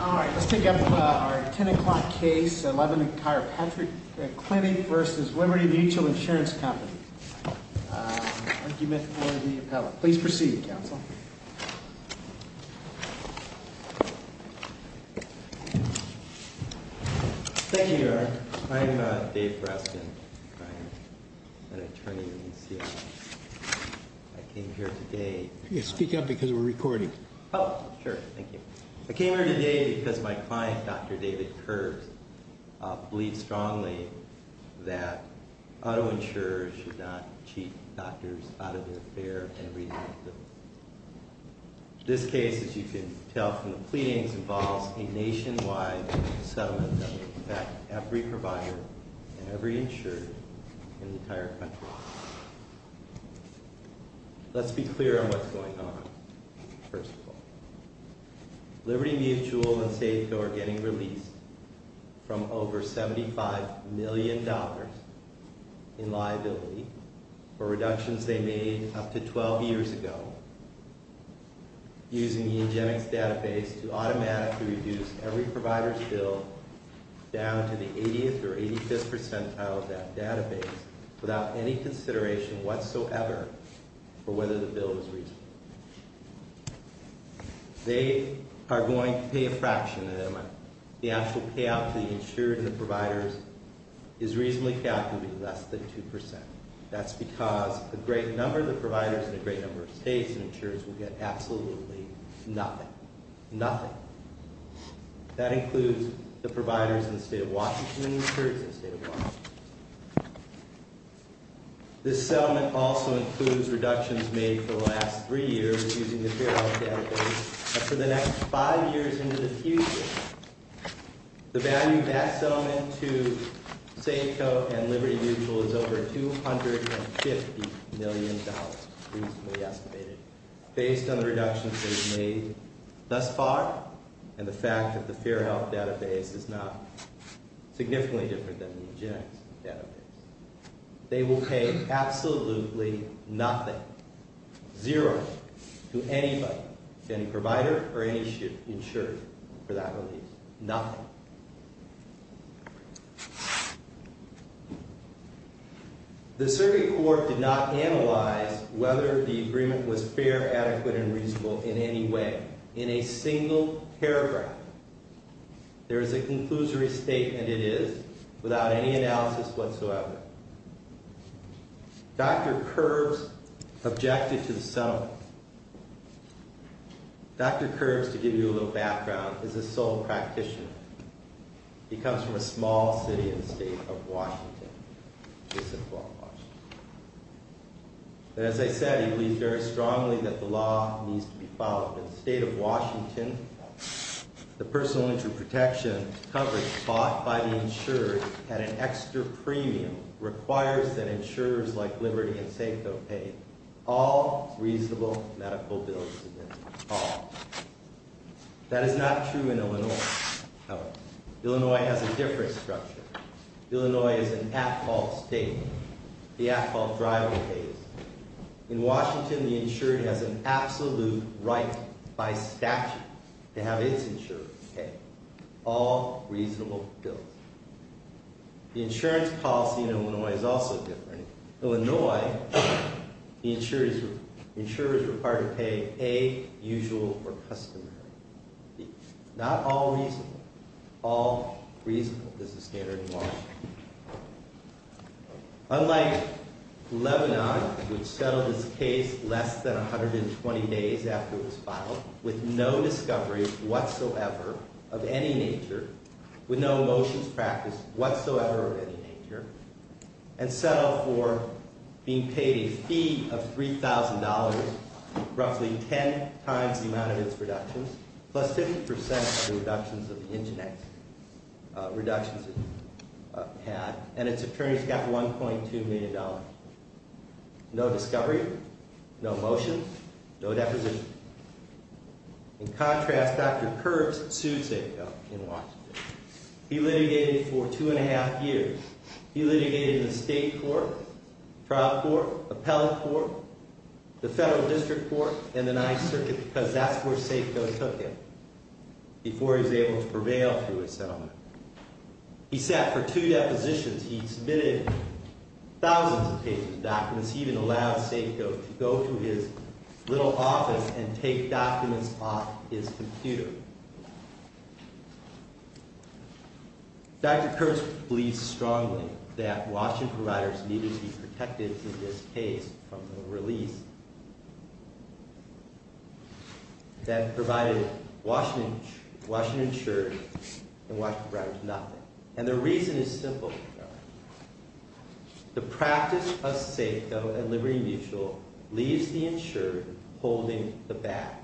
All right, let's take up our 10 o'clock case, 11 Chiropractic Clinic v. Liberty Mutual Insurance Company. Argument for the appellate. Please proceed, Counsel. Thank you, Your Honor. I'm Dave Breskin. I'm an attorney in the NCI. I came here today... You're speaking up because we're recording. Oh, sure. Thank you. I came here today because my client, Dr. David Kerbs, believes strongly that auto insurers should not cheat doctors out of their fare and resources. This case, as you can tell from the pleadings, involves a nationwide settlement that will affect every provider and every insurer in the entire country. Let's be clear on what's going on, first of all. Liberty Mutual and Safeco are getting released from over $75 million in liability for reductions they made up to 12 years ago, using the Ingenex database to automatically reduce every provider's bill down to the 80th or 85th percentile of that database without any consideration whatsoever for whether the bill is reasonable. They are going to pay a fraction of that amount. The actual payout to the insurers and providers is reasonably calculated to be less than 2%. That's because a great number of the providers in a great number of states and insurers will get absolutely nothing. Nothing. That includes the providers in the state of Washington and the insurers in the state of Washington. This settlement also includes reductions made for the last three years using the Fair Health database up to the next five years into the future. The value of that settlement to Safeco and Liberty Mutual is over $250 million, reasonably estimated, based on the reductions they've made thus far and the fact that the Fair Health database is not significantly different than the Ingenex. They will pay absolutely nothing, zero, to anybody, any provider or any insurer for that release. Nothing. The Survey Court did not analyze whether the agreement was fair, adequate, and reasonable in any way, in a single paragraph. There is a conclusory statement it is, without any analysis whatsoever. Dr. Curbs objected to the settlement. Dr. Curbs, to give you a little background, is a sole practitioner. He comes from a small city in the state of Washington. As I said, he believes very strongly that the law needs to be followed. In the state of Washington, the personal injury protection coverage taught by the insurer at an extra premium requires that insurers like Liberty and Safeco pay all reasonable medical bills. That is not true in Illinois. Illinois has a different structure. Illinois is an at-fault state. The at-fault driver pays. In Washington, the insurer has an absolute right, by statute, to have its insurer pay all reasonable bills. The insurance policy in Illinois is also different. In Illinois, the insurer is required to pay a usual or customary fee. Not all reasonable. All reasonable is the standard in Washington. Unlike Lebanon, which settled its case less than 120 days after it was filed, with no discovery whatsoever of any nature, with no motions practiced whatsoever of any nature, and settled for being paid a fee of $3,000, roughly 10 times the amount of its reductions, plus 50% of the reductions of the internet, and its attorneys got $1.2 million. No discovery. No motions. No depositions. In contrast, Dr. Kurtz sued Safeco in Washington. He litigated for two and a half years. He litigated in the state court, trial court, appellate court, the federal district court, and the ninth circuit, because that's where Safeco took him. Before he was able to prevail through his settlement. He sat for two depositions. He submitted thousands of pages of documents. He even allowed Safeco to go to his little office and take documents off his computer. Dr. Kurtz believes strongly that Washington providers needed to be protected in this case from the release. That provided Washington insured and Washington providers nothing. And the reason is simple. The practice of Safeco and Liberty Mutual leaves the insured holding the bag.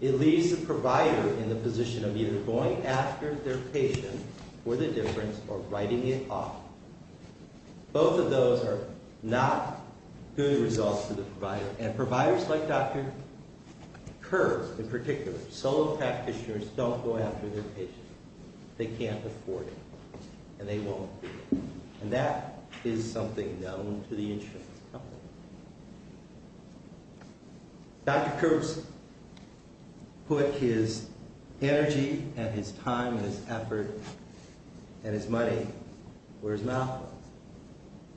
It leaves the provider in the position of either going after their patient for the difference or writing it off. Both of those are not good results for the provider. And providers like Dr. Kurtz in particular, solo practitioners, don't go after their patient. They can't afford it. And they won't. And that is something known to the insurance company. Dr. Kurtz put his energy and his time and his effort and his money where his mouth was.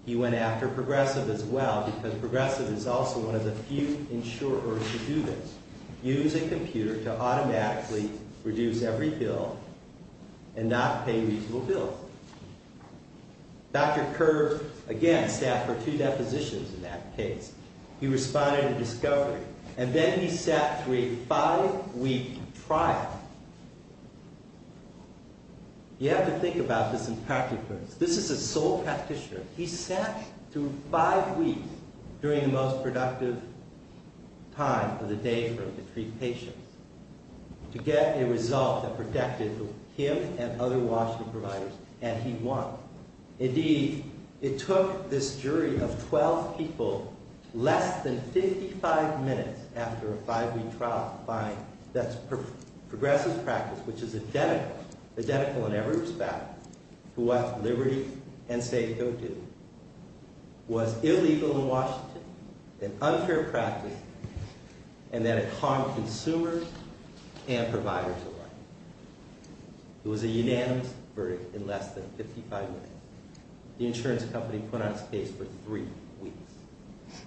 He went after Progressive as well because Progressive is also one of the few insurers who do this. Use a computer to automatically reduce every bill and not pay reasonable bills. Dr. Kurtz, again, sat for two depositions in that case. He responded to discovery. And then he sat through a five-week trial. You have to think about this in practice. This is a solo practitioner. He sat through five weeks during the most productive time of the day for him to treat patients. To get a result that protected him and other Washington providers. And he won. Indeed, it took this jury of 12 people less than 55 minutes after a five-week trial to find that Progressive practice, which is identical in every respect to what Liberty and Safeco do, was illegal in Washington, an unfair practice, and that it harmed consumers and providers alike. It was a unanimous verdict in less than 55 minutes. The insurance company put on its case for three weeks.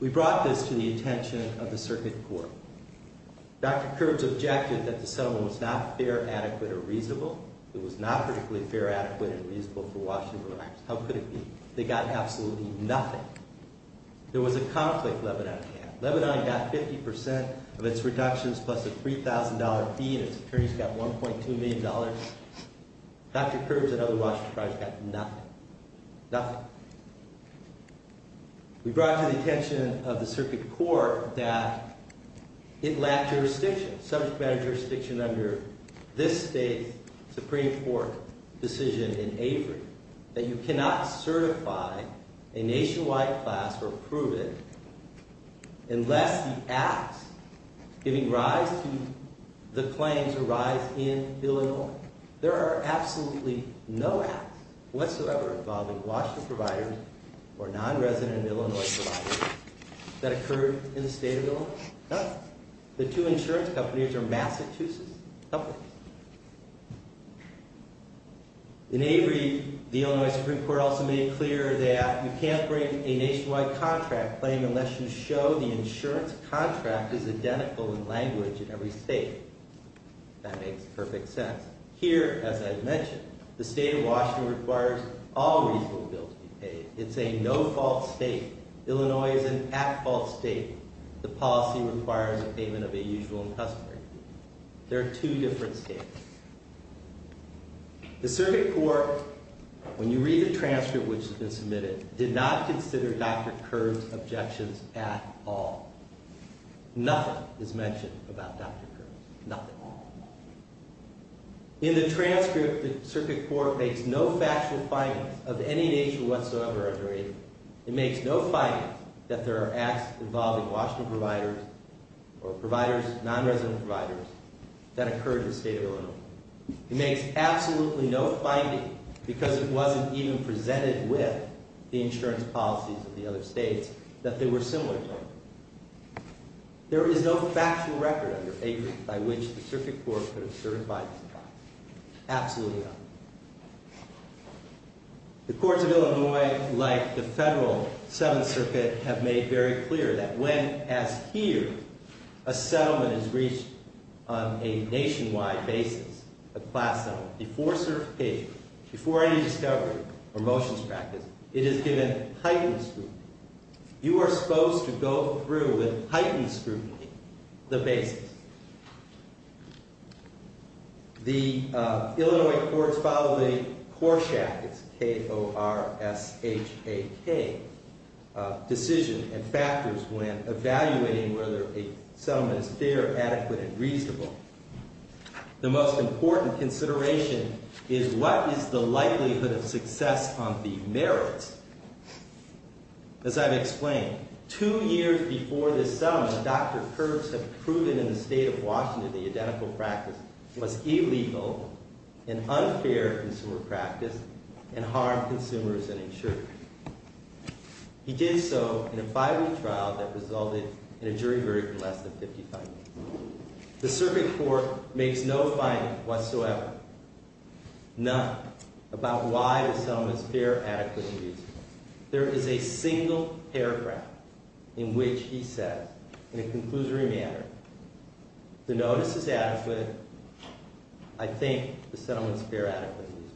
We brought this to the attention of the circuit court. Dr. Kurtz objected that the settlement was not fair, adequate, or reasonable. It was not particularly fair, adequate, and reasonable for Washington providers. How could it be? They got absolutely nothing. There was a conflict Lebanon had. Lebanon got 50% of its reductions plus a $3,000 fee, and its attorneys got $1.2 million. Dr. Kurtz and other Washington providers got nothing. Nothing. We brought to the attention of the circuit court that it lacked jurisdiction, subject matter jurisdiction under this state's Supreme Court decision in Avery, that you cannot certify a nationwide class or approve it unless the acts giving rise to the claims arise in Illinois. There are absolutely no acts whatsoever involving Washington providers or non-resident Illinois providers that occurred in the state of Illinois. Nothing. The two insurance companies are Massachusetts companies. In Avery, the Illinois Supreme Court also made clear that you can't bring a nationwide contract claim unless you show the insurance contract is identical in language in every state. That makes perfect sense. Here, as I've mentioned, the state of Washington requires all reasonable bills to be paid. It's a no-fault state. Illinois is an at-fault state. The policy requires a payment of a usual and customary fee. There are two different states. The circuit court, when you read the transcript which has been submitted, did not consider Dr. Kurtz's objections at all. Nothing is mentioned about Dr. Kurtz. Nothing. In the transcript, the circuit court makes no factual findings of any nature whatsoever under Avery. It makes no findings that there are acts involving Washington providers or non-resident providers that occurred in the state of Illinois. It makes absolutely no findings, because it wasn't even presented with the insurance policies of the other states, that they were similar to. There is no factual record under Avery by which the circuit court could have certified this. Absolutely none. The courts of Illinois, like the federal Seventh Circuit, have made very clear that when, as here, a settlement is reached on a nationwide basis, a class settlement, before certification, before any discovery or motions practice, it is given heightened scrutiny. You are supposed to go through with heightened scrutiny the basis. The Illinois courts follow the Korshak, it's K-O-R-S-H-A-K, decision and factors when evaluating whether a settlement is fair, adequate, and reasonable. The most important consideration is what is the likelihood of success on the merits. As I've explained, two years before this settlement, Dr. Kurtz had proven in the state of Washington the identical practice was illegal, an unfair consumer practice, and harmed consumers and insurers. He did so in a five-week trial that resulted in a jury verdict of less than 55 years. The circuit court makes no finding whatsoever, none, about why the settlement is fair, adequate, and reasonable. There is a single paragraph in which he says, in a conclusory manner, the notice is adequate, I think the settlement is fair, adequate, and reasonable.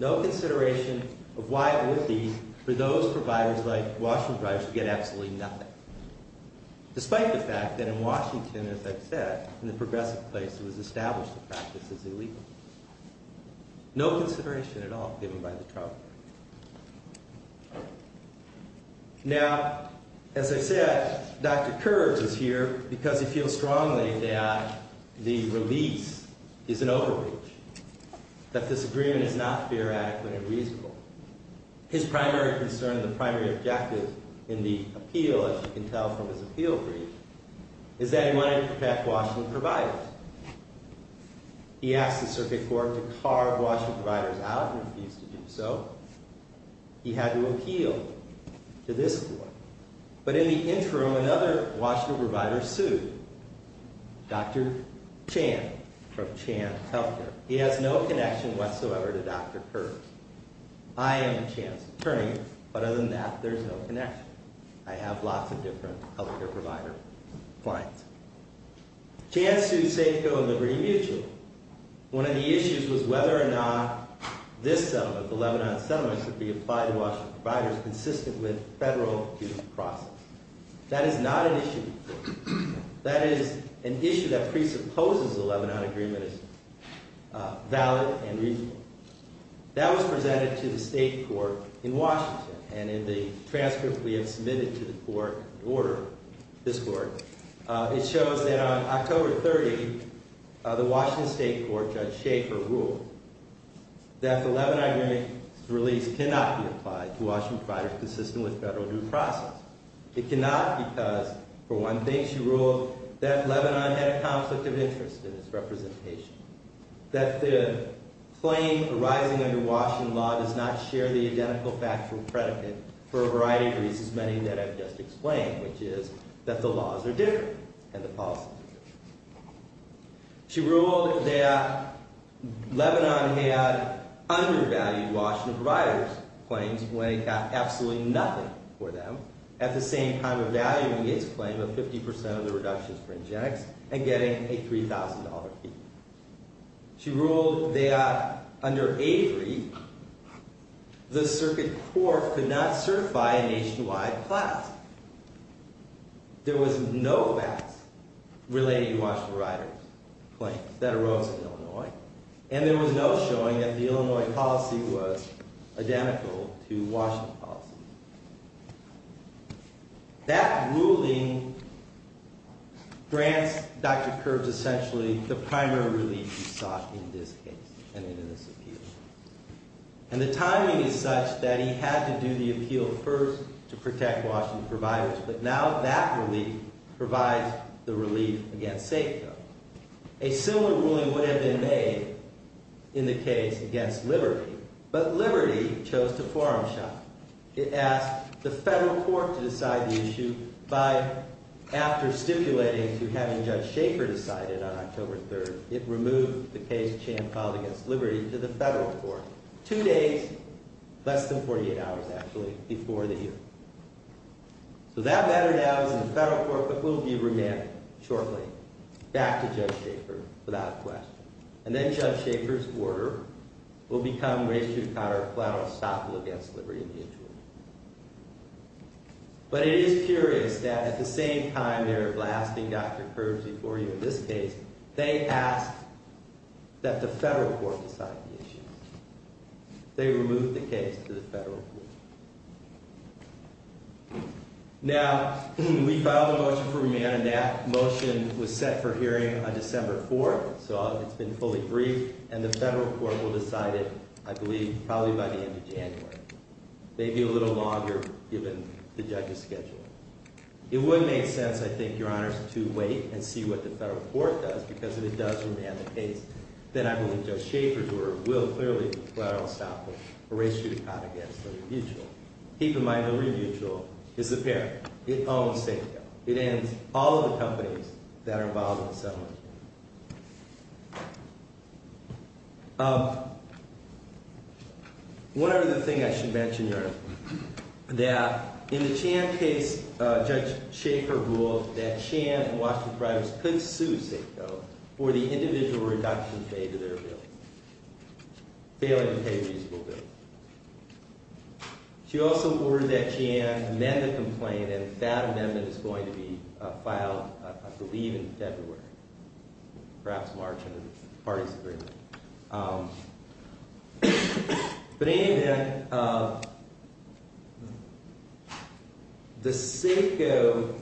No consideration of why it would be for those providers like Washington Privates to get absolutely nothing. Despite the fact that in Washington, as I've said, in the progressive place, it was established the practice is illegal. No consideration at all given by the trial. Now, as I said, Dr. Kurtz is here because he feels strongly that the release is an overreach, that this agreement is not fair, adequate, and reasonable. His primary concern and the primary objective in the appeal, as you can tell from his appeal brief, is that he wanted to protect Washington providers. He asked the circuit court to carve Washington providers out and refused to do so. He had to appeal to this court. But in the interim, another Washington provider sued, Dr. Chan from Chan Healthcare. He has no connection whatsoever to Dr. Kurtz. I am Chan's attorney, but other than that, there's no connection. I have lots of different healthcare provider clients. Chan sued Safeco and Liberty Mutual. One of the issues was whether or not this settlement, the Lebanon settlement, should be applied to Washington providers consistent with federal due process. That is not an issue. That is an issue that presupposes the Lebanon agreement is valid and reasonable. That was presented to the state court in Washington. And in the transcript we have submitted to the court in order, this court, it shows that on October 30, the Washington state court, Judge Schaefer, ruled that the Lebanon agreement's release cannot be applied to Washington providers consistent with federal due process. It cannot because, for one thing, she ruled that Lebanon had a conflict of interest in its representation. That the claim arising under Washington law does not share the identical factual predicate for a variety of reasons, many that I've just explained, which is that the laws are different and the policies are different. She ruled that Lebanon had undervalued Washington providers' claims when it got absolutely nothing for them, at the same time evaluating its claim of 50% of the reductions for Ingenex and getting a $3,000 fee. She ruled that under Avery, the circuit court could not certify a nationwide class. There was no class related to Washington providers' claims that arose in Illinois. And there was no showing that the Illinois policy was identical to Washington policy. That ruling grants Dr. Kirby essentially the primary relief he sought in this case and in this appeal. And the timing is such that he had to do the appeal first to protect Washington providers, but now that relief provides the relief against Safeco. A similar ruling would have been made in the case against Liberty, but Liberty chose to forearm shot. It asked the federal court to decide the issue by, after stipulating to having Judge Schaefer decide it on October 3rd, it removed the case of Champ v. Liberty to the federal court, two days, less than 48 hours, actually, before the hearing. So that matter now is in the federal court, but will be remanded shortly back to Judge Schaefer without question. And then Judge Schaefer's order will become racially counter-platter, stoppable against Liberty in the interim. But it is curious that at the same time they were blasting Dr. Kirby before you in this case, they asked that the federal court decide the issue. They removed the case to the federal court. Now, we filed a motion for remand, and that motion was set for hearing on December 4th, so it's been fully briefed, and the federal court will decide it, I believe, probably by the end of January. Maybe a little longer, given the judge's schedule. It would make sense, I think, Your Honors, to wait and see what the federal court does, because if it does remand the case, then I believe Judge Schaefer's order will clearly be platter-stoppable, racially counter-platter against Liberty Mutual. Keep in mind that Liberty Mutual is the parent. It owns Safeco. It owns all of the companies that are involved in the settlement. One other thing I should mention, Your Honor, that in the Chan case, Judge Schaefer ruled that Chan and Washington Privates could sue Safeco for the individual reduction paid to their bill, failing to pay a reasonable bill. She also ordered that Chan amend the complaint, and that amendment is going to be filed, I believe, in February, perhaps March, under the parties' agreement. But in any event, the Safeco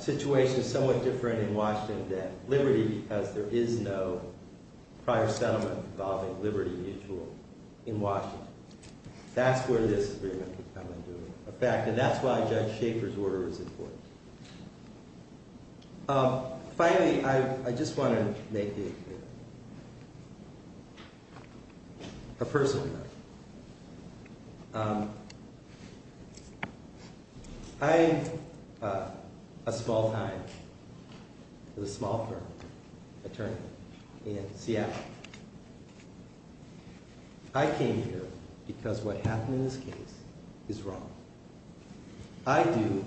situation is somewhat different in Washington than Liberty, because there is no prior settlement involving Liberty Mutual in Washington. That's where this is going to come into effect, and that's why Judge Schaefer's order is important. Finally, I just want to make a personal note. I, a small-time, with a small firm, attorney in Seattle, I came here because what happened in this case is wrong. I do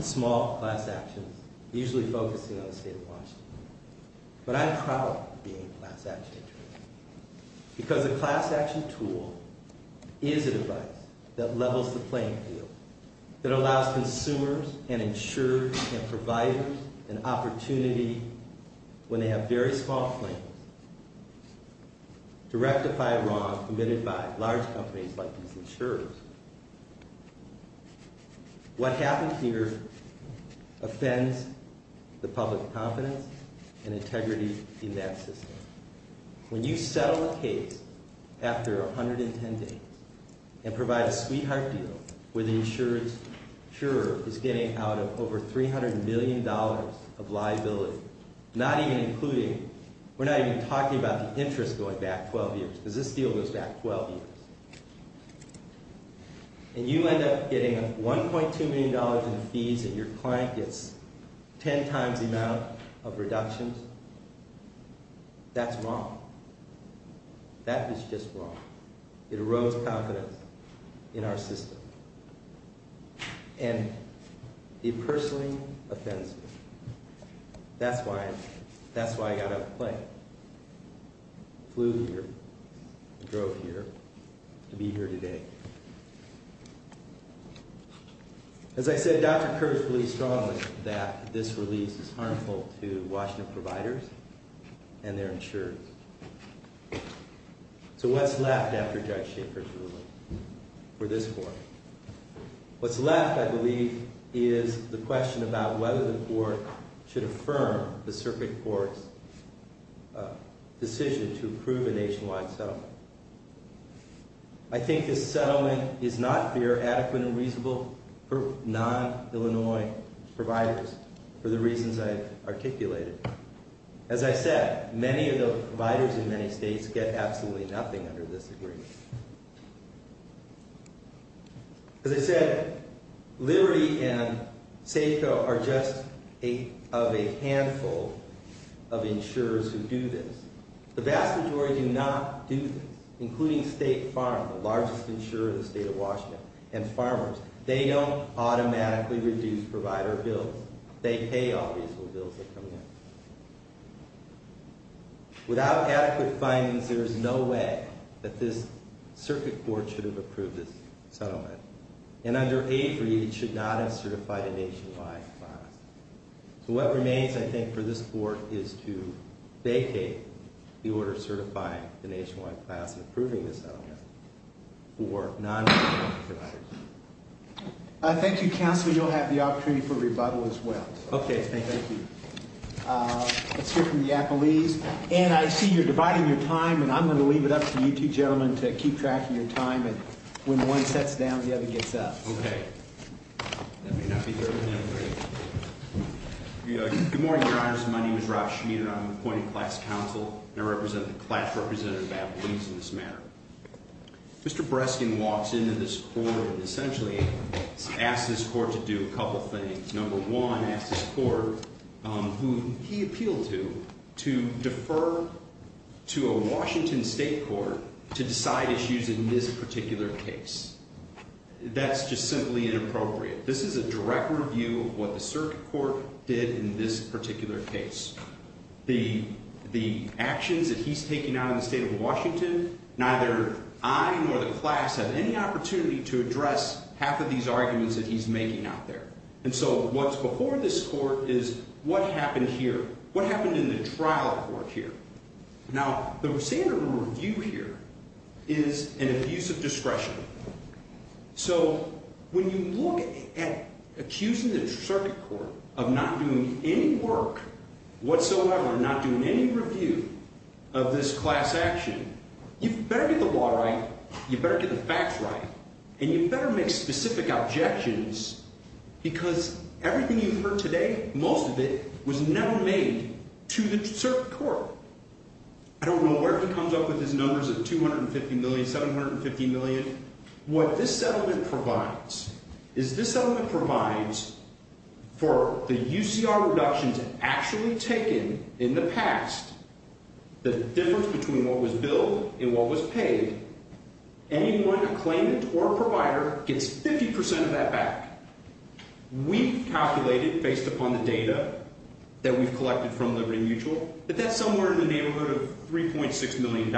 small class actions, usually focusing on the state of Washington, but I'm proud of being a class action attorney, because a class action tool is a device that levels the playing field, that allows consumers and insurers and providers an opportunity, when they have very small claims, to rectify a wrong committed by large companies like these insurers. What happened here offends the public confidence and integrity in that system. When you settle a case after 110 days and provide a sweetheart deal where the insurer is getting out of over $300 million of liability, not even including, we're not even talking about the interest going back 12 years, because this deal goes back 12 years, and you end up getting $1.2 million in fees and your client gets 10 times the amount of reductions, that's wrong. That is just wrong. It erodes confidence in our system, and it personally offends me. That's why I got out of the plane, flew here, drove here, to be here today. As I said, Dr. Kurz believes strongly that this release is harmful to Washington providers and their insurers. So what's left after Judge Schaefer's release for this court? What's left, I believe, is the question about whether the court should affirm the circuit court's decision to approve a nationwide settlement. I think this settlement is not fair, adequate, and reasonable for non-Illinois providers for the reasons I've articulated. As I said, many of the providers in many states get absolutely nothing under this agreement. As I said, Liberty and Safeco are just of a handful of insurers who do this. The vast majority do not do this, including State Farm, the largest insurer in the state of Washington, and farmers. They don't automatically reduce provider bills. They pay all reasonable bills that come in. Without adequate findings, there is no way that this circuit court should have approved this settlement. And under Avery, it should not have certified a nationwide class. So what remains, I think, for this court is to vacate the order certifying the nationwide class and approving the settlement for non-Illinois providers. Thank you, counsel. You'll have the opportunity for rebuttal as well. Okay, thank you. Let's hear from the appellees. Ann, I see you're dividing your time, and I'm going to leave it up to you two gentlemen to keep track of your time. When one sets down, the other gets up. Okay. That may not be fair to them. Good morning, Your Honors. My name is Rob Schmieder. I'm an appointed class counsel. I represent the class representative appellees in this matter. Mr. Breskin walks into this court and essentially asks this court to do a couple things. Number one, asks this court, who he appealed to, to defer to a Washington state court to decide issues in this particular case. That's just simply inappropriate. This is a direct review of what the circuit court did in this particular case. The actions that he's taking out of the state of Washington, neither I nor the class have any opportunity to address half of these arguments that he's making out there. So what's before this court is what happened here, what happened in the trial court here. Now, the standard review here is an abuse of discretion. So when you look at accusing the circuit court of not doing any work whatsoever, not doing any review of this class action, you better get the law right, you better get the facts right, and you better make specific objections because everything you've heard today, most of it, was never made to the circuit court. I don't know where he comes up with his numbers of $250 million, $750 million. What this settlement provides is this settlement provides for the UCR reductions actually taken in the past, the difference between what was billed and what was paid, anyone, a claimant or a provider, gets 50% of that back. We calculated, based upon the data that we've collected from Liberty Mutual, that that's somewhere in the neighborhood of $3.6 million.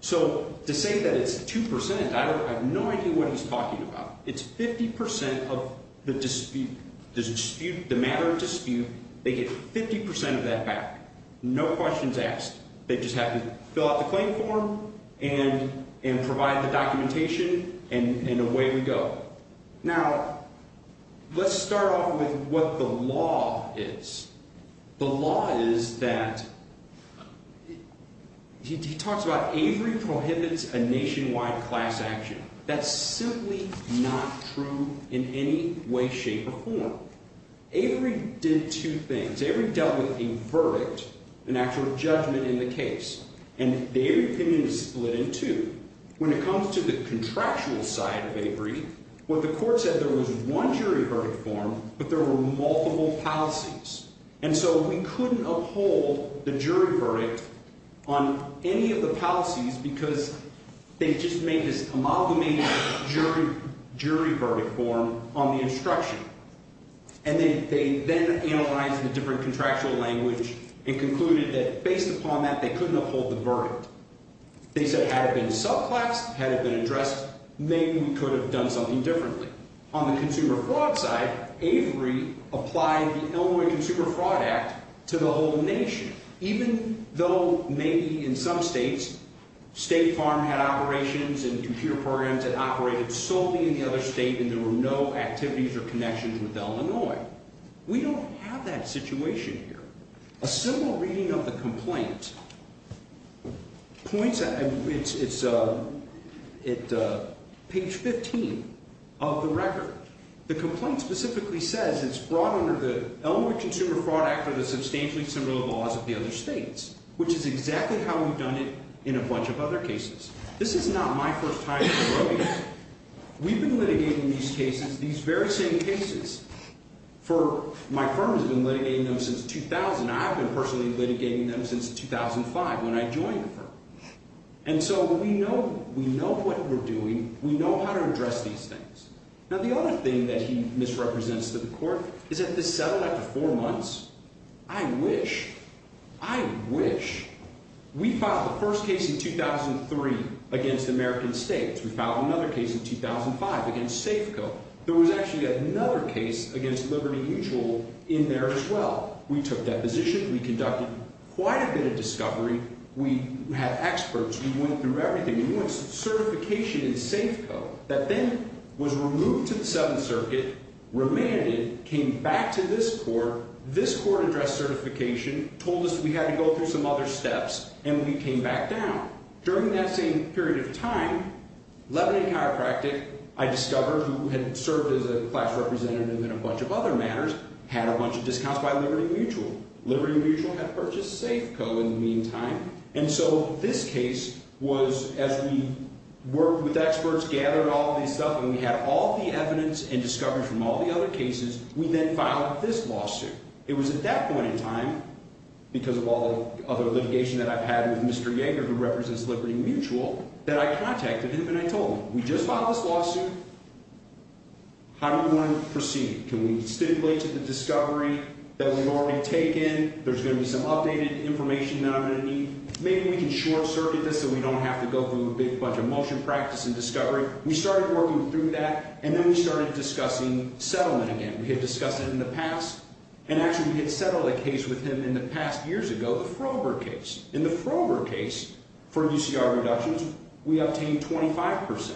So to say that it's 2%, I have no idea what he's talking about. It's 50% of the dispute, the matter of dispute, they get 50% of that back. No questions asked. They just have to fill out the claim form and provide the documentation, and away we go. Now, let's start off with what the law is. The law is that, he talks about Avery prohibits a nationwide class action. That's simply not true in any way, shape, or form. Avery did two things. Avery dealt with a verdict, an actual judgment in the case, and the Avery opinion is split in two. When it comes to the contractual side of Avery, what the court said, there was one jury verdict form, but there were multiple policies. And so we couldn't uphold the jury verdict on any of the policies because they just made this amalgamated jury verdict form on the instruction. And they then analyzed the different contractual language and concluded that, based upon that, they couldn't uphold the verdict. They said, had it been subclass, had it been addressed, maybe we could have done something differently. On the consumer fraud side, Avery applied the Illinois Consumer Fraud Act to the whole nation. Even though, maybe in some states, State Farm had operations and computer programs that operated solely in the other state and there were no activities or connections with Illinois. We don't have that situation here. A similar reading of the complaint points at page 15 of the record. The complaint specifically says it's brought under the Illinois Consumer Fraud Act for the substantially similar laws of the other states, which is exactly how we've done it in a bunch of other cases. This is not my first time in the room. We've been litigating these cases, these very same cases, for my firm has been litigating them since 2000. I've been personally litigating them since 2005 when I joined the firm. And so we know what we're doing. We know how to address these things. Now the other thing that he misrepresents to the court is that this settled after four months. I wish, I wish. We filed the first case in 2003 against American States. We filed another case in 2005 against Safeco. There was actually another case against Liberty Mutual in there as well. We took that position. We conducted quite a bit of discovery. We had experts. We went through everything. We had a new certification in Safeco that then was removed to the Seventh Circuit, remanded, came back to this court. This court addressed certification, told us we had to go through some other steps, and we came back down. During that same period of time, Lebanon Chiropractic, I discovered, who had served as a class representative in a bunch of other matters, had a bunch of discounts by Liberty Mutual. Liberty Mutual had purchased Safeco in the meantime. And so this case was, as we worked with experts, gathered all this stuff, and we had all the evidence and discovery from all the other cases, we then filed this lawsuit. It was at that point in time, because of all the other litigation that I've had with Mr. Yeager, who represents Liberty Mutual, that I contacted him and I told him, we just filed this lawsuit. How do we want to proceed? Can we stipulate to the discovery that we've already taken? There's going to be some updated information that I'm going to need. Maybe we can short-circuit this so we don't have to go through a big bunch of motion practice and discovery. We started working through that, and then we started discussing settlement again. We had discussed it in the past, and actually we had settled a case with him in the past years ago, the Froberg case. In the Froberg case, for UCR reductions, we obtained 25%.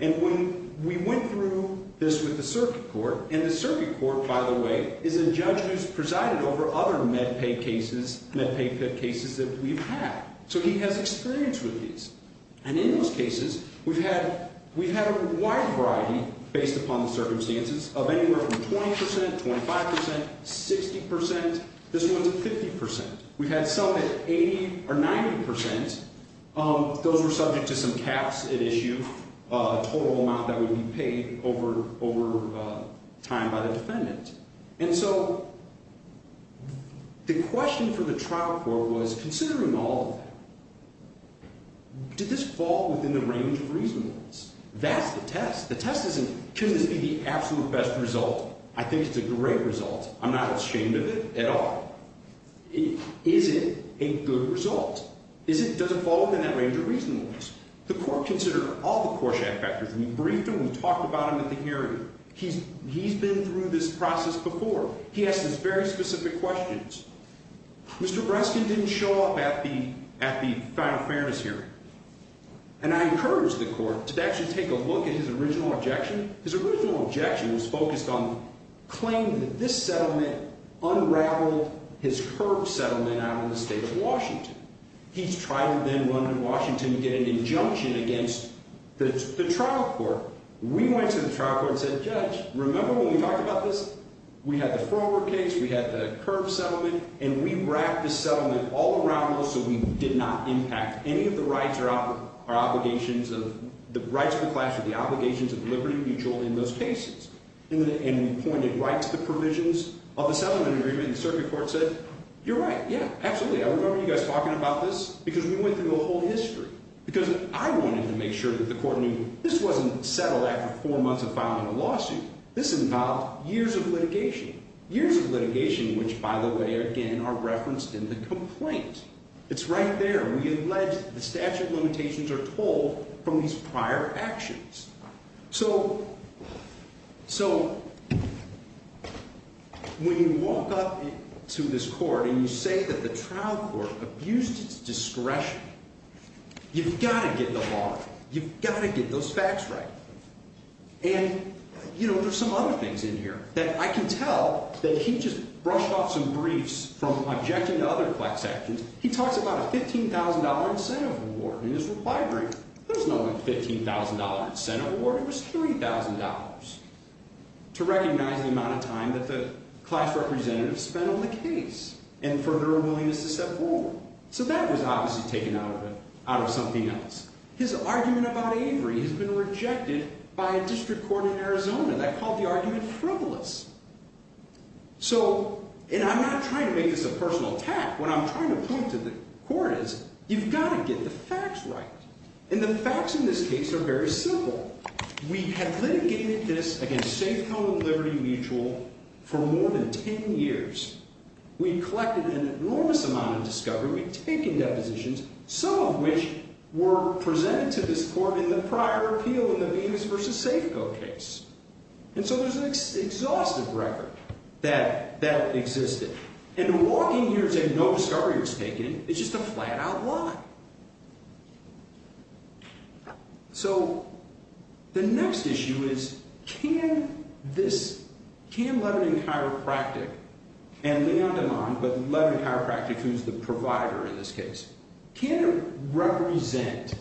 And when we went through this with the circuit court, and the circuit court, by the way, is a judge who's presided over other MedPay cases, MedPay cases that we've had. So he has experience with these. And in those cases, we've had a wide variety, based upon the circumstances, of anywhere from 20%, 25%, 60%. This one's at 50%. We've had some at 80% or 90%. Those were subject to some caps at issue, total amount that would be paid over time by the defendant. And so the question for the trial court was, considering all of that, did this fall within the range of reasonableness? That's the test. The test isn't, couldn't this be the absolute best result? I think it's a great result. I'm not ashamed of it at all. Is it a good result? Is it, does it fall within that range of reasonableness? The court considered all the Korshak factors. We briefed him, we talked about him at the hearing. He's, he's been through this process before. He asked us very specific questions. Mr. Breskin didn't show up at the, at the final fairness hearing. And I encouraged the court to actually take a look at his original objection. His original objection was focused on claiming that this settlement unraveled his curb settlement out in the state of Washington. He's tried to then run to Washington to get an injunction against the, the trial court. We went to the trial court and said, Judge, remember when we talked about this? We had the Frommer case. We had the curb settlement. And we wrapped the settlement all around those so we did not impact any of the rights or obligations of, the rights of the class or the obligations of liberty mutual in those cases. And we pointed right to the provisions of the settlement agreement. And the circuit court said, you're right. Yeah, absolutely. I remember you guys talking about this. Because we went through a whole history. Because I wanted to make sure that the court knew this wasn't settled after four months of filing a lawsuit. This involved years of litigation. Years of litigation which, by the way, again, are referenced in the complaint. It's right there. We allege the statute limitations are told from these prior actions. So, so, when you walk up to this court and you say that the trial court abused its discretion, you've got to get the law right. You've got to get those facts right. And, you know, there's some other things in here that I can tell that he just brushed off some briefs from objecting to other flex actions. He talks about a $15,000 incentive award in his reply brief. There was no $15,000 incentive award. It was $30,000 to recognize the amount of time that the class representatives spent on the case and for their willingness to step forward. So that was obviously taken out of it, out of something else. His argument about Avery has been rejected by a district court in Arizona that called the argument frivolous. So, and I'm not trying to make this a personal attack. What I'm trying to point to the court is, you've got to get the facts right. And the facts in this case are very simple. We have litigated this against Safeco and Liberty Mutual for more than 10 years. We collected an enormous amount of discovery. We've taken depositions, some of which were presented to this court in the prior appeal in the Bemis v. Safeco case. And so there's an exhaustive record that, that existed. And walking here saying no discovery was taken is just a flat out lie. So, the next issue is, can this, can Lebanon Chiropractic, and Leon DeMond, but Lebanon Chiropractic, who's the provider in this case, can it represent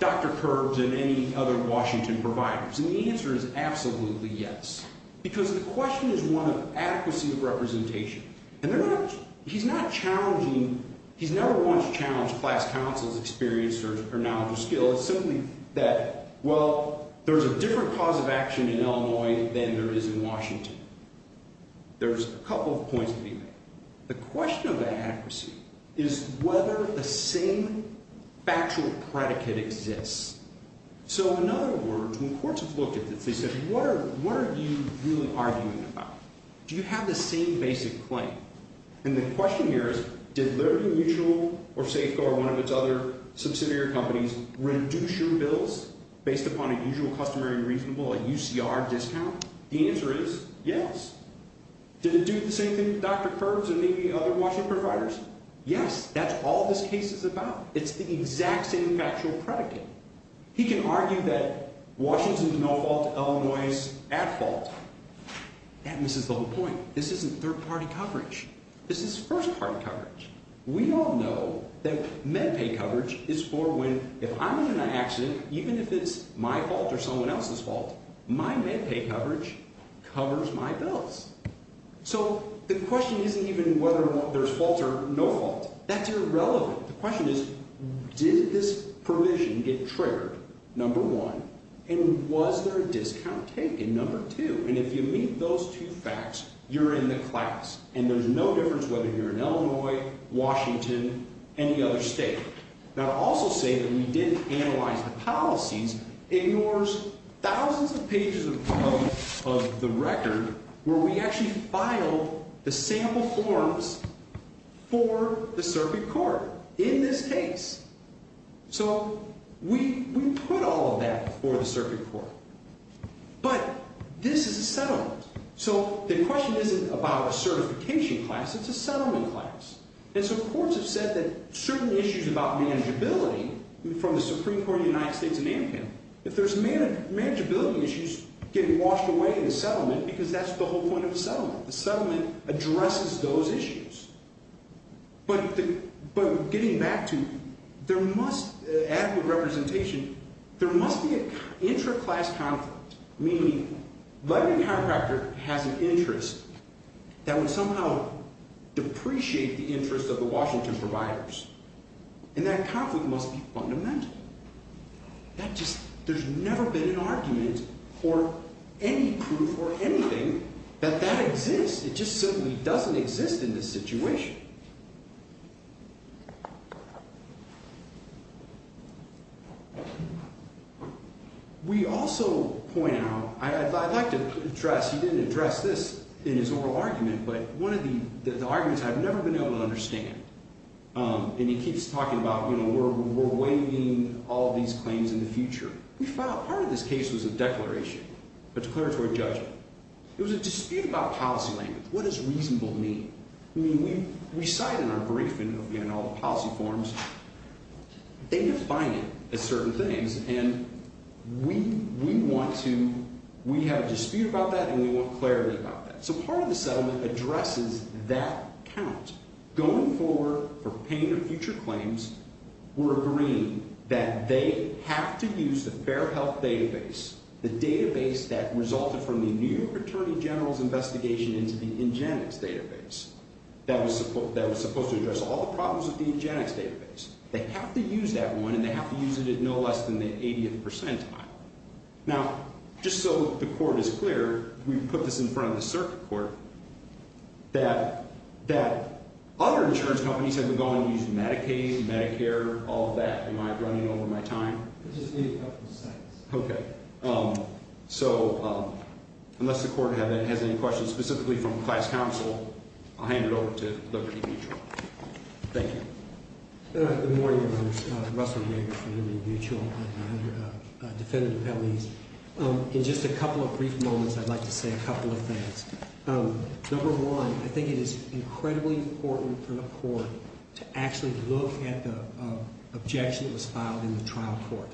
Dr. Curbs and any other Washington providers? And the answer is absolutely yes. Because the question is one of adequacy of representation. And they're not, he's not challenging, he's never once challenged class counsel's experience or knowledge or skill. It's simply that, well, there's a different cause of action in Illinois than there is in Washington. There's a couple of points to be made. The question of adequacy is whether the same factual predicate exists. So, in other words, when courts have looked at this, they said, what are you really arguing about? Do you have the same basic claim? And the question here is, did Liberty Mutual or Safeco or one of its other subsidiary companies reduce your bills based upon a usual customary reasonable, a UCR discount? The answer is yes. Did it do the same thing with Dr. Curbs and maybe other Washington providers? Yes, that's all this case is about. It's the exact same factual predicate. He can argue that Washington's no fault, Illinois's at fault. That misses the whole point. This isn't third-party coverage. This is first-party coverage. We all know that MedPay coverage is for when, if I'm in an accident, even if it's my fault or someone else's fault, my MedPay coverage covers my bills. So the question isn't even whether there's fault or no fault. That's irrelevant. The question is, did this provision get triggered, number one? And was there a discount taken, number two? And if you meet those two facts, you're in the class. And there's no difference whether you're in Illinois, Washington, any other state. Now, to also say that we didn't analyze the policies ignores thousands of pages of the record where we actually filed the sample forms for the circuit court in this case. So we put all of that before the circuit court. But this is a settlement. So the question isn't about a certification class. It's a settlement class. And so courts have said that certain issues about manageability from the Supreme Court of the United States in Amhen, if there's manageability issues, get washed away in the settlement because that's the whole point of the settlement. The settlement addresses those issues. But getting back to adequate representation, there must be an intra-class conflict. Meaning, let me have a factor that has an interest that would somehow depreciate the interest of the Washington providers. And that conflict must be fundamental. There's never been an argument for any proof or anything that that exists. It just simply doesn't exist in this situation. We also point out, I'd like to address, he didn't address this in his oral argument, but one of the arguments I've never been able to understand. And he keeps talking about, you know, we're waiving all these claims in the future. We found part of this case was a declaration, a declaratory judgment. It was a dispute about policy language. What does reasonable mean? I mean, we cite in our briefing, in all the policy forms, they define it as certain things. And we want to, we have a dispute about that and we want clarity about that. So part of the settlement addresses that count. Going forward, for paying the future claims, we're agreeing that they have to use the Fair Health database. The database that resulted from the New York Attorney General's investigation into the Ingenix database. That was supposed to address all the problems with the Ingenix database. They have to use that one and they have to use it at no less than the 80th percentile. Now, just so the court is clear, we put this in front of the circuit court, that other insurance companies have gone and used Medicaid, Medicare, all of that. Am I running over my time? Just a couple of seconds. Okay. So unless the court has any questions specifically from class counsel, I'll hand it over to Liberty Mutual. Thank you. Good morning, Your Honor. Russell Rieger from Liberty Mutual. I'm a defendant of penalties. In just a couple of brief moments, I'd like to say a couple of things. Number one, I think it is incredibly important for the court to actually look at the objection that was filed in the trial court.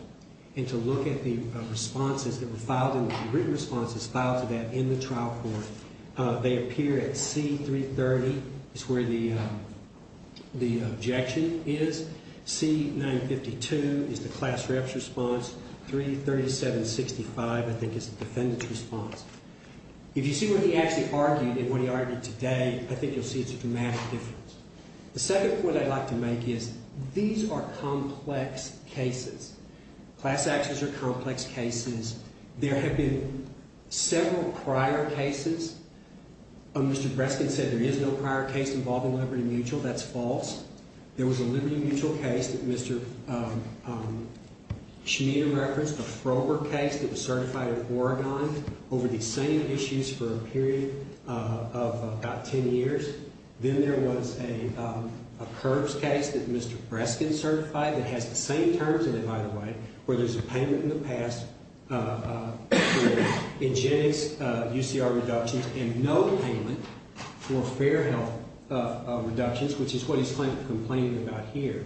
And to look at the responses that were filed, the written responses filed to that in the trial court. They appear at C-330 is where the objection is. C-952 is the class rep's response. 337-65, I think, is the defendant's response. If you see what he actually argued and what he argued today, I think you'll see it's a dramatic difference. The second point I'd like to make is these are complex cases. Class actions are complex cases. There have been several prior cases. Mr. Breskin said there is no prior case involving Liberty Mutual. That's false. There was a Liberty Mutual case that Mr. Shmita referenced, a Frober case that was certified in Oregon over these same issues for a period of about 10 years. Then there was a curbs case that Mr. Breskin certified that has the same terms in it, by the way, where there's a payment in the past for eugenics UCR reductions and no payment for fair health reductions, which is what he's complaining about here.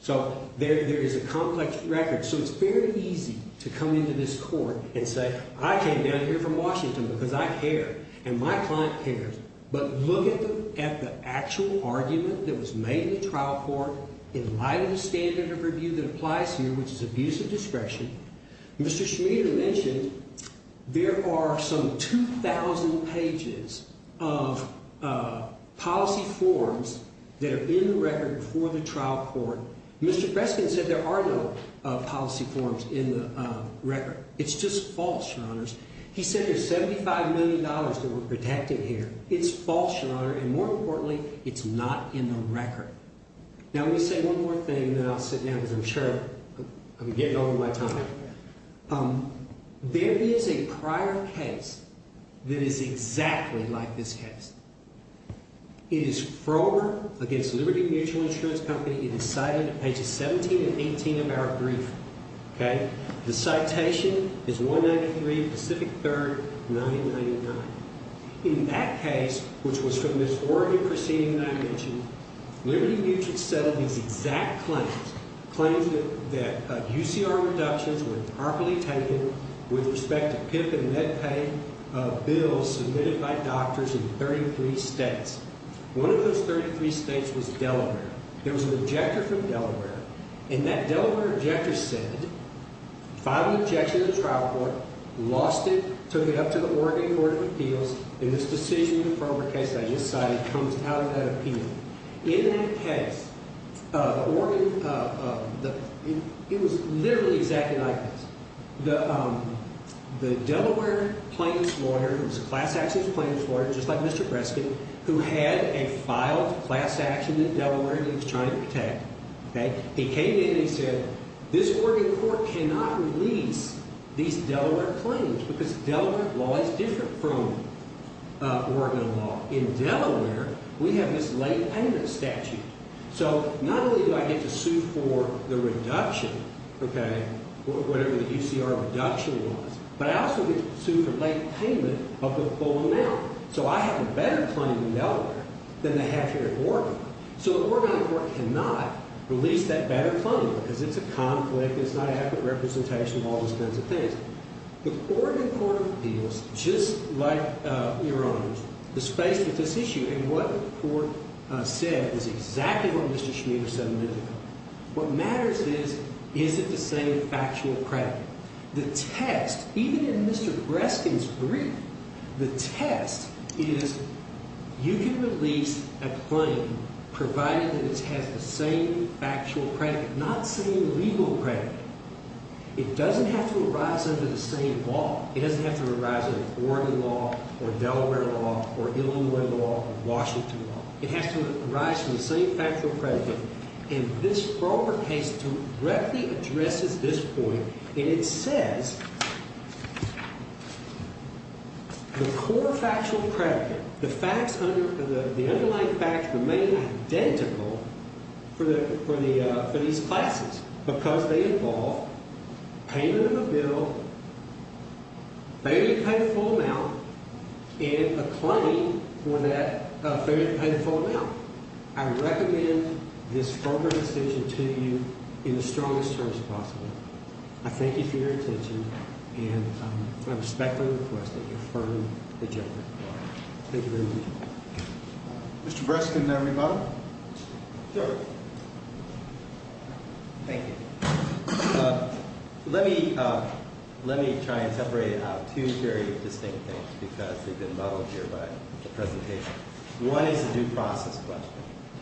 So there is a complex record. So it's very easy to come into this court and say I came down here from Washington because I care and my client cares. But look at the actual argument that was made in the trial court in light of the standard of review that applies here, which is abuse of discretion. Mr. Shmita mentioned there are some 2,000 pages of policy forms that are in the record for the trial court. Mr. Breskin said there are no policy forms in the record. He said there's $75 million that were protected here. It's false, Your Honor, and more importantly, it's not in the record. Now, let me say one more thing and then I'll sit down because I'm sure I'm getting over my time. There is a prior case that is exactly like this case. It is Frober against Liberty Mutual Insurance Company. It is cited at pages 17 and 18 of our brief. Okay? The citation is 193 Pacific 3rd 999. In that case, which was from this Oregon proceeding that I mentioned, Liberty Mutual settled these exact claims, claims that UCR reductions were improperly taken with respect to PIP and MedPay bills submitted by doctors in 33 states. One of those 33 states was Delaware. There was an objector from Delaware, and that Delaware objector said, filed an objection to the trial court, lost it, took it up to the Oregon Court of Appeals, and this decision in the Frober case that I just cited comes out of that appeal. In that case, the Oregon, it was literally exactly like this. The Delaware plaintiff's lawyer, who was a class action plaintiff's lawyer, just like Mr. Breskin, who had a filed class action in Delaware that he was trying to protect, okay? He came in and he said, this Oregon court cannot release these Delaware claims because Delaware law is different from Oregon law. In Delaware, we have this late payment statute. So not only do I get to sue for the reduction, okay, whatever the UCR reduction was, but I also get to sue for late payment of the full amount. So I have a better claim in Delaware than I have here in Oregon. So the Oregon court cannot release that better claim because it's a conflict, it's not an accurate representation of all those kinds of things. The Oregon Court of Appeals, just like Your Honors, is faced with this issue, and what the court said is exactly what Mr. Schmider said a minute ago. What matters is, is it the same factual credit? The test, even in Mr. Breskin's brief, the test is you can release a claim provided that it has the same factual credit, not the same legal credit. It doesn't have to arise under the same law. It doesn't have to arise under Oregon law or Delaware law or Illinois law or Washington law. It has to arise from the same factual credit. And this broker case directly addresses this point, and it says the core factual credit, the facts under, the underlying facts remain identical for the, for these classes. Because they involve payment of a bill, fairly paid full amount, and a claim for that fairly paid full amount. I recommend this further decision to you in the strongest terms possible. I thank you for your attention, and I respectfully request that you affirm the judgment. Thank you very much. Mr. Breskin, may I rebuttal? Sure. Thank you. Let me, let me try and separate out two very distinct things because they've been modeled here by the presentation. One is a due process question.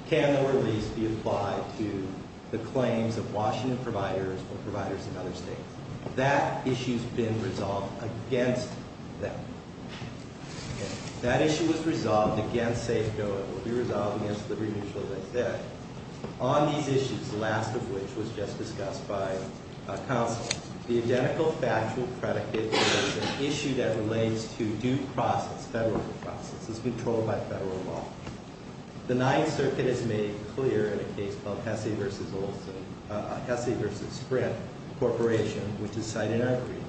Can the release be applied to the claims of Washington providers or providers in other states? That issue's been resolved against them. Okay. That issue was resolved against Safeco. It will be resolved against the remitters of that debt. On these issues, the last of which was just discussed by counsel, the identical factual credit is an issue that relates to due process, federal due process. It's controlled by federal law. The Ninth Circuit has made it clear in a case called Hesse v. Olson, Hesse v. Sprint Corporation, which is cited in our agreement,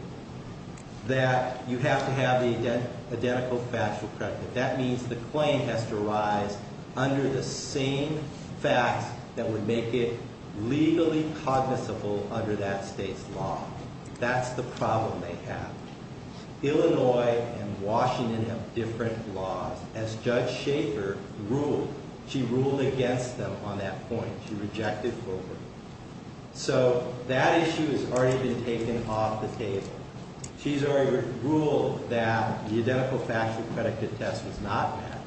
that you have to have the identical factual credit. That means the claim has to arise under the same facts that would make it legally cognizable under that state's law. That's the problem they have. Illinois and Washington have different laws. As Judge Schaefer ruled, she ruled against them on that point. She rejected both of them. So that issue has already been taken off the table. She's already ruled that the identical factual credit contest was not met.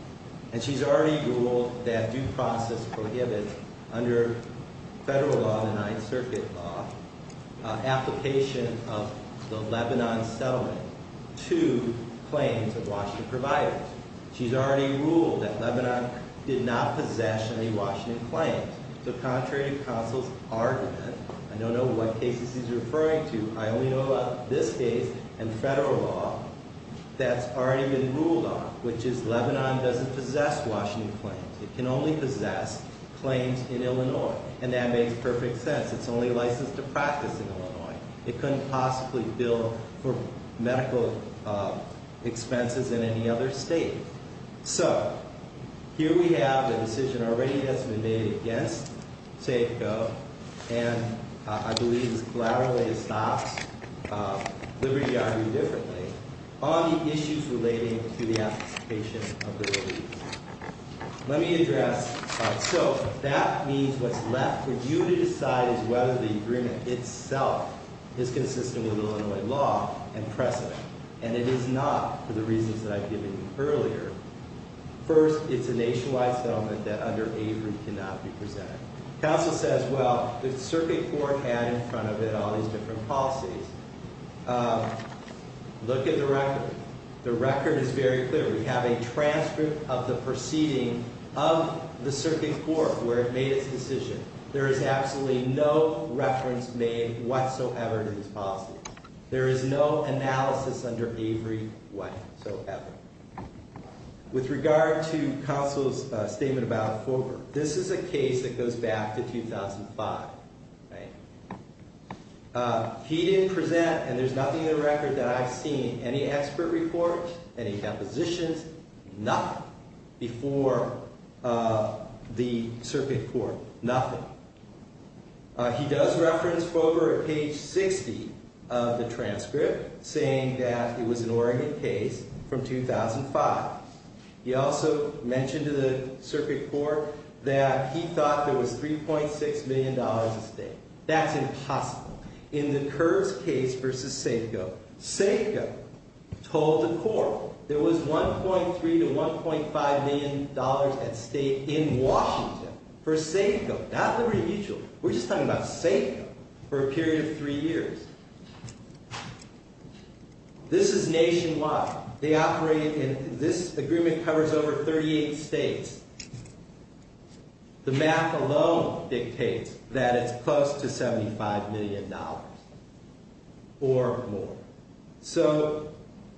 And she's already ruled that due process prohibits under federal law, the Ninth Circuit law, application of the Lebanon settlement to claims of Washington providers. She's already ruled that Lebanon did not possess any Washington claims. So contrary to counsel's argument, I don't know what cases he's referring to. I only know about this case and federal law that's already been ruled on, which is Lebanon doesn't possess Washington claims. It can only possess claims in Illinois. And that makes perfect sense. It's a practice in Illinois. It couldn't possibly bill for medical expenses in any other state. So, here we have the decision already that's been made against Safeco. And I believe it's collateral that it stops. Liberty argued differently on the issues relating to the application of the relief. Let me address. So that means what's left for you to decide is whether the agreement itself is consistent with Illinois law and precedent. And it is not for the reasons that I've given you earlier. First, it's a nationwide settlement that under Avery cannot be presented. Counsel says, well, the circuit board had in front of it all these different policies. Look at the record. The record is very clear. We have a transcript of the proceeding of the circuit court where it made its decision. There is absolutely no reference made whatsoever to these policies. There is no analysis under Avery whatsoever. With regard to counsel's statement about Fulber, this is a case that goes back to 2005. He didn't present, and there's nothing in the record that I've seen, any expert reports, any compositions, nothing, before the circuit court. Nothing. He does reference Fulber at page 60 of the transcript, saying that it was an Oregon case from 2005. He also mentioned to the circuit court that he thought there was $3.6 million at stake. That's impossible. In the Kurtz case versus Safeco, Safeco told the court there was $1.3 to $1.5 million at stake in Washington for Safeco, not Liberty Mutual. We're just talking about Safeco, for a period of three years. This is nationwide. They operate, and this agreement covers over 38 states. The math alone dictates that it's close to $75 million or more. So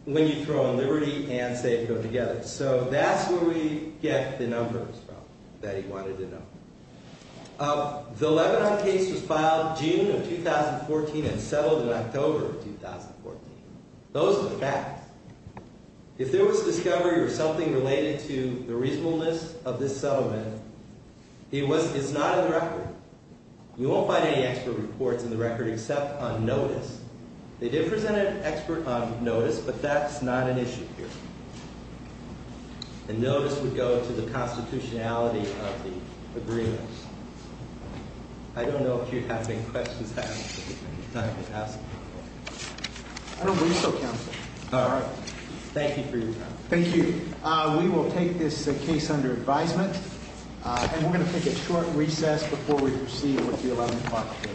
when you throw in Liberty and Safeco together. So that's where we get the numbers from that he wanted to know. The Lebanon case was filed June of 2014 and settled in October of 2014. Those are the facts. If there was discovery or something related to the reasonableness of this settlement, it's not in the record. You won't find any expert reports in the record except on notice. They did present an expert on notice, but that's not an issue here. The notice would go to the constitutionality of the agreement. I don't know if you have any questions. I don't believe so, counsel. Thank you for your time. Thank you. We will take this case under advisement, and we're going to take a short recess before we proceed with the 11 o'clock case.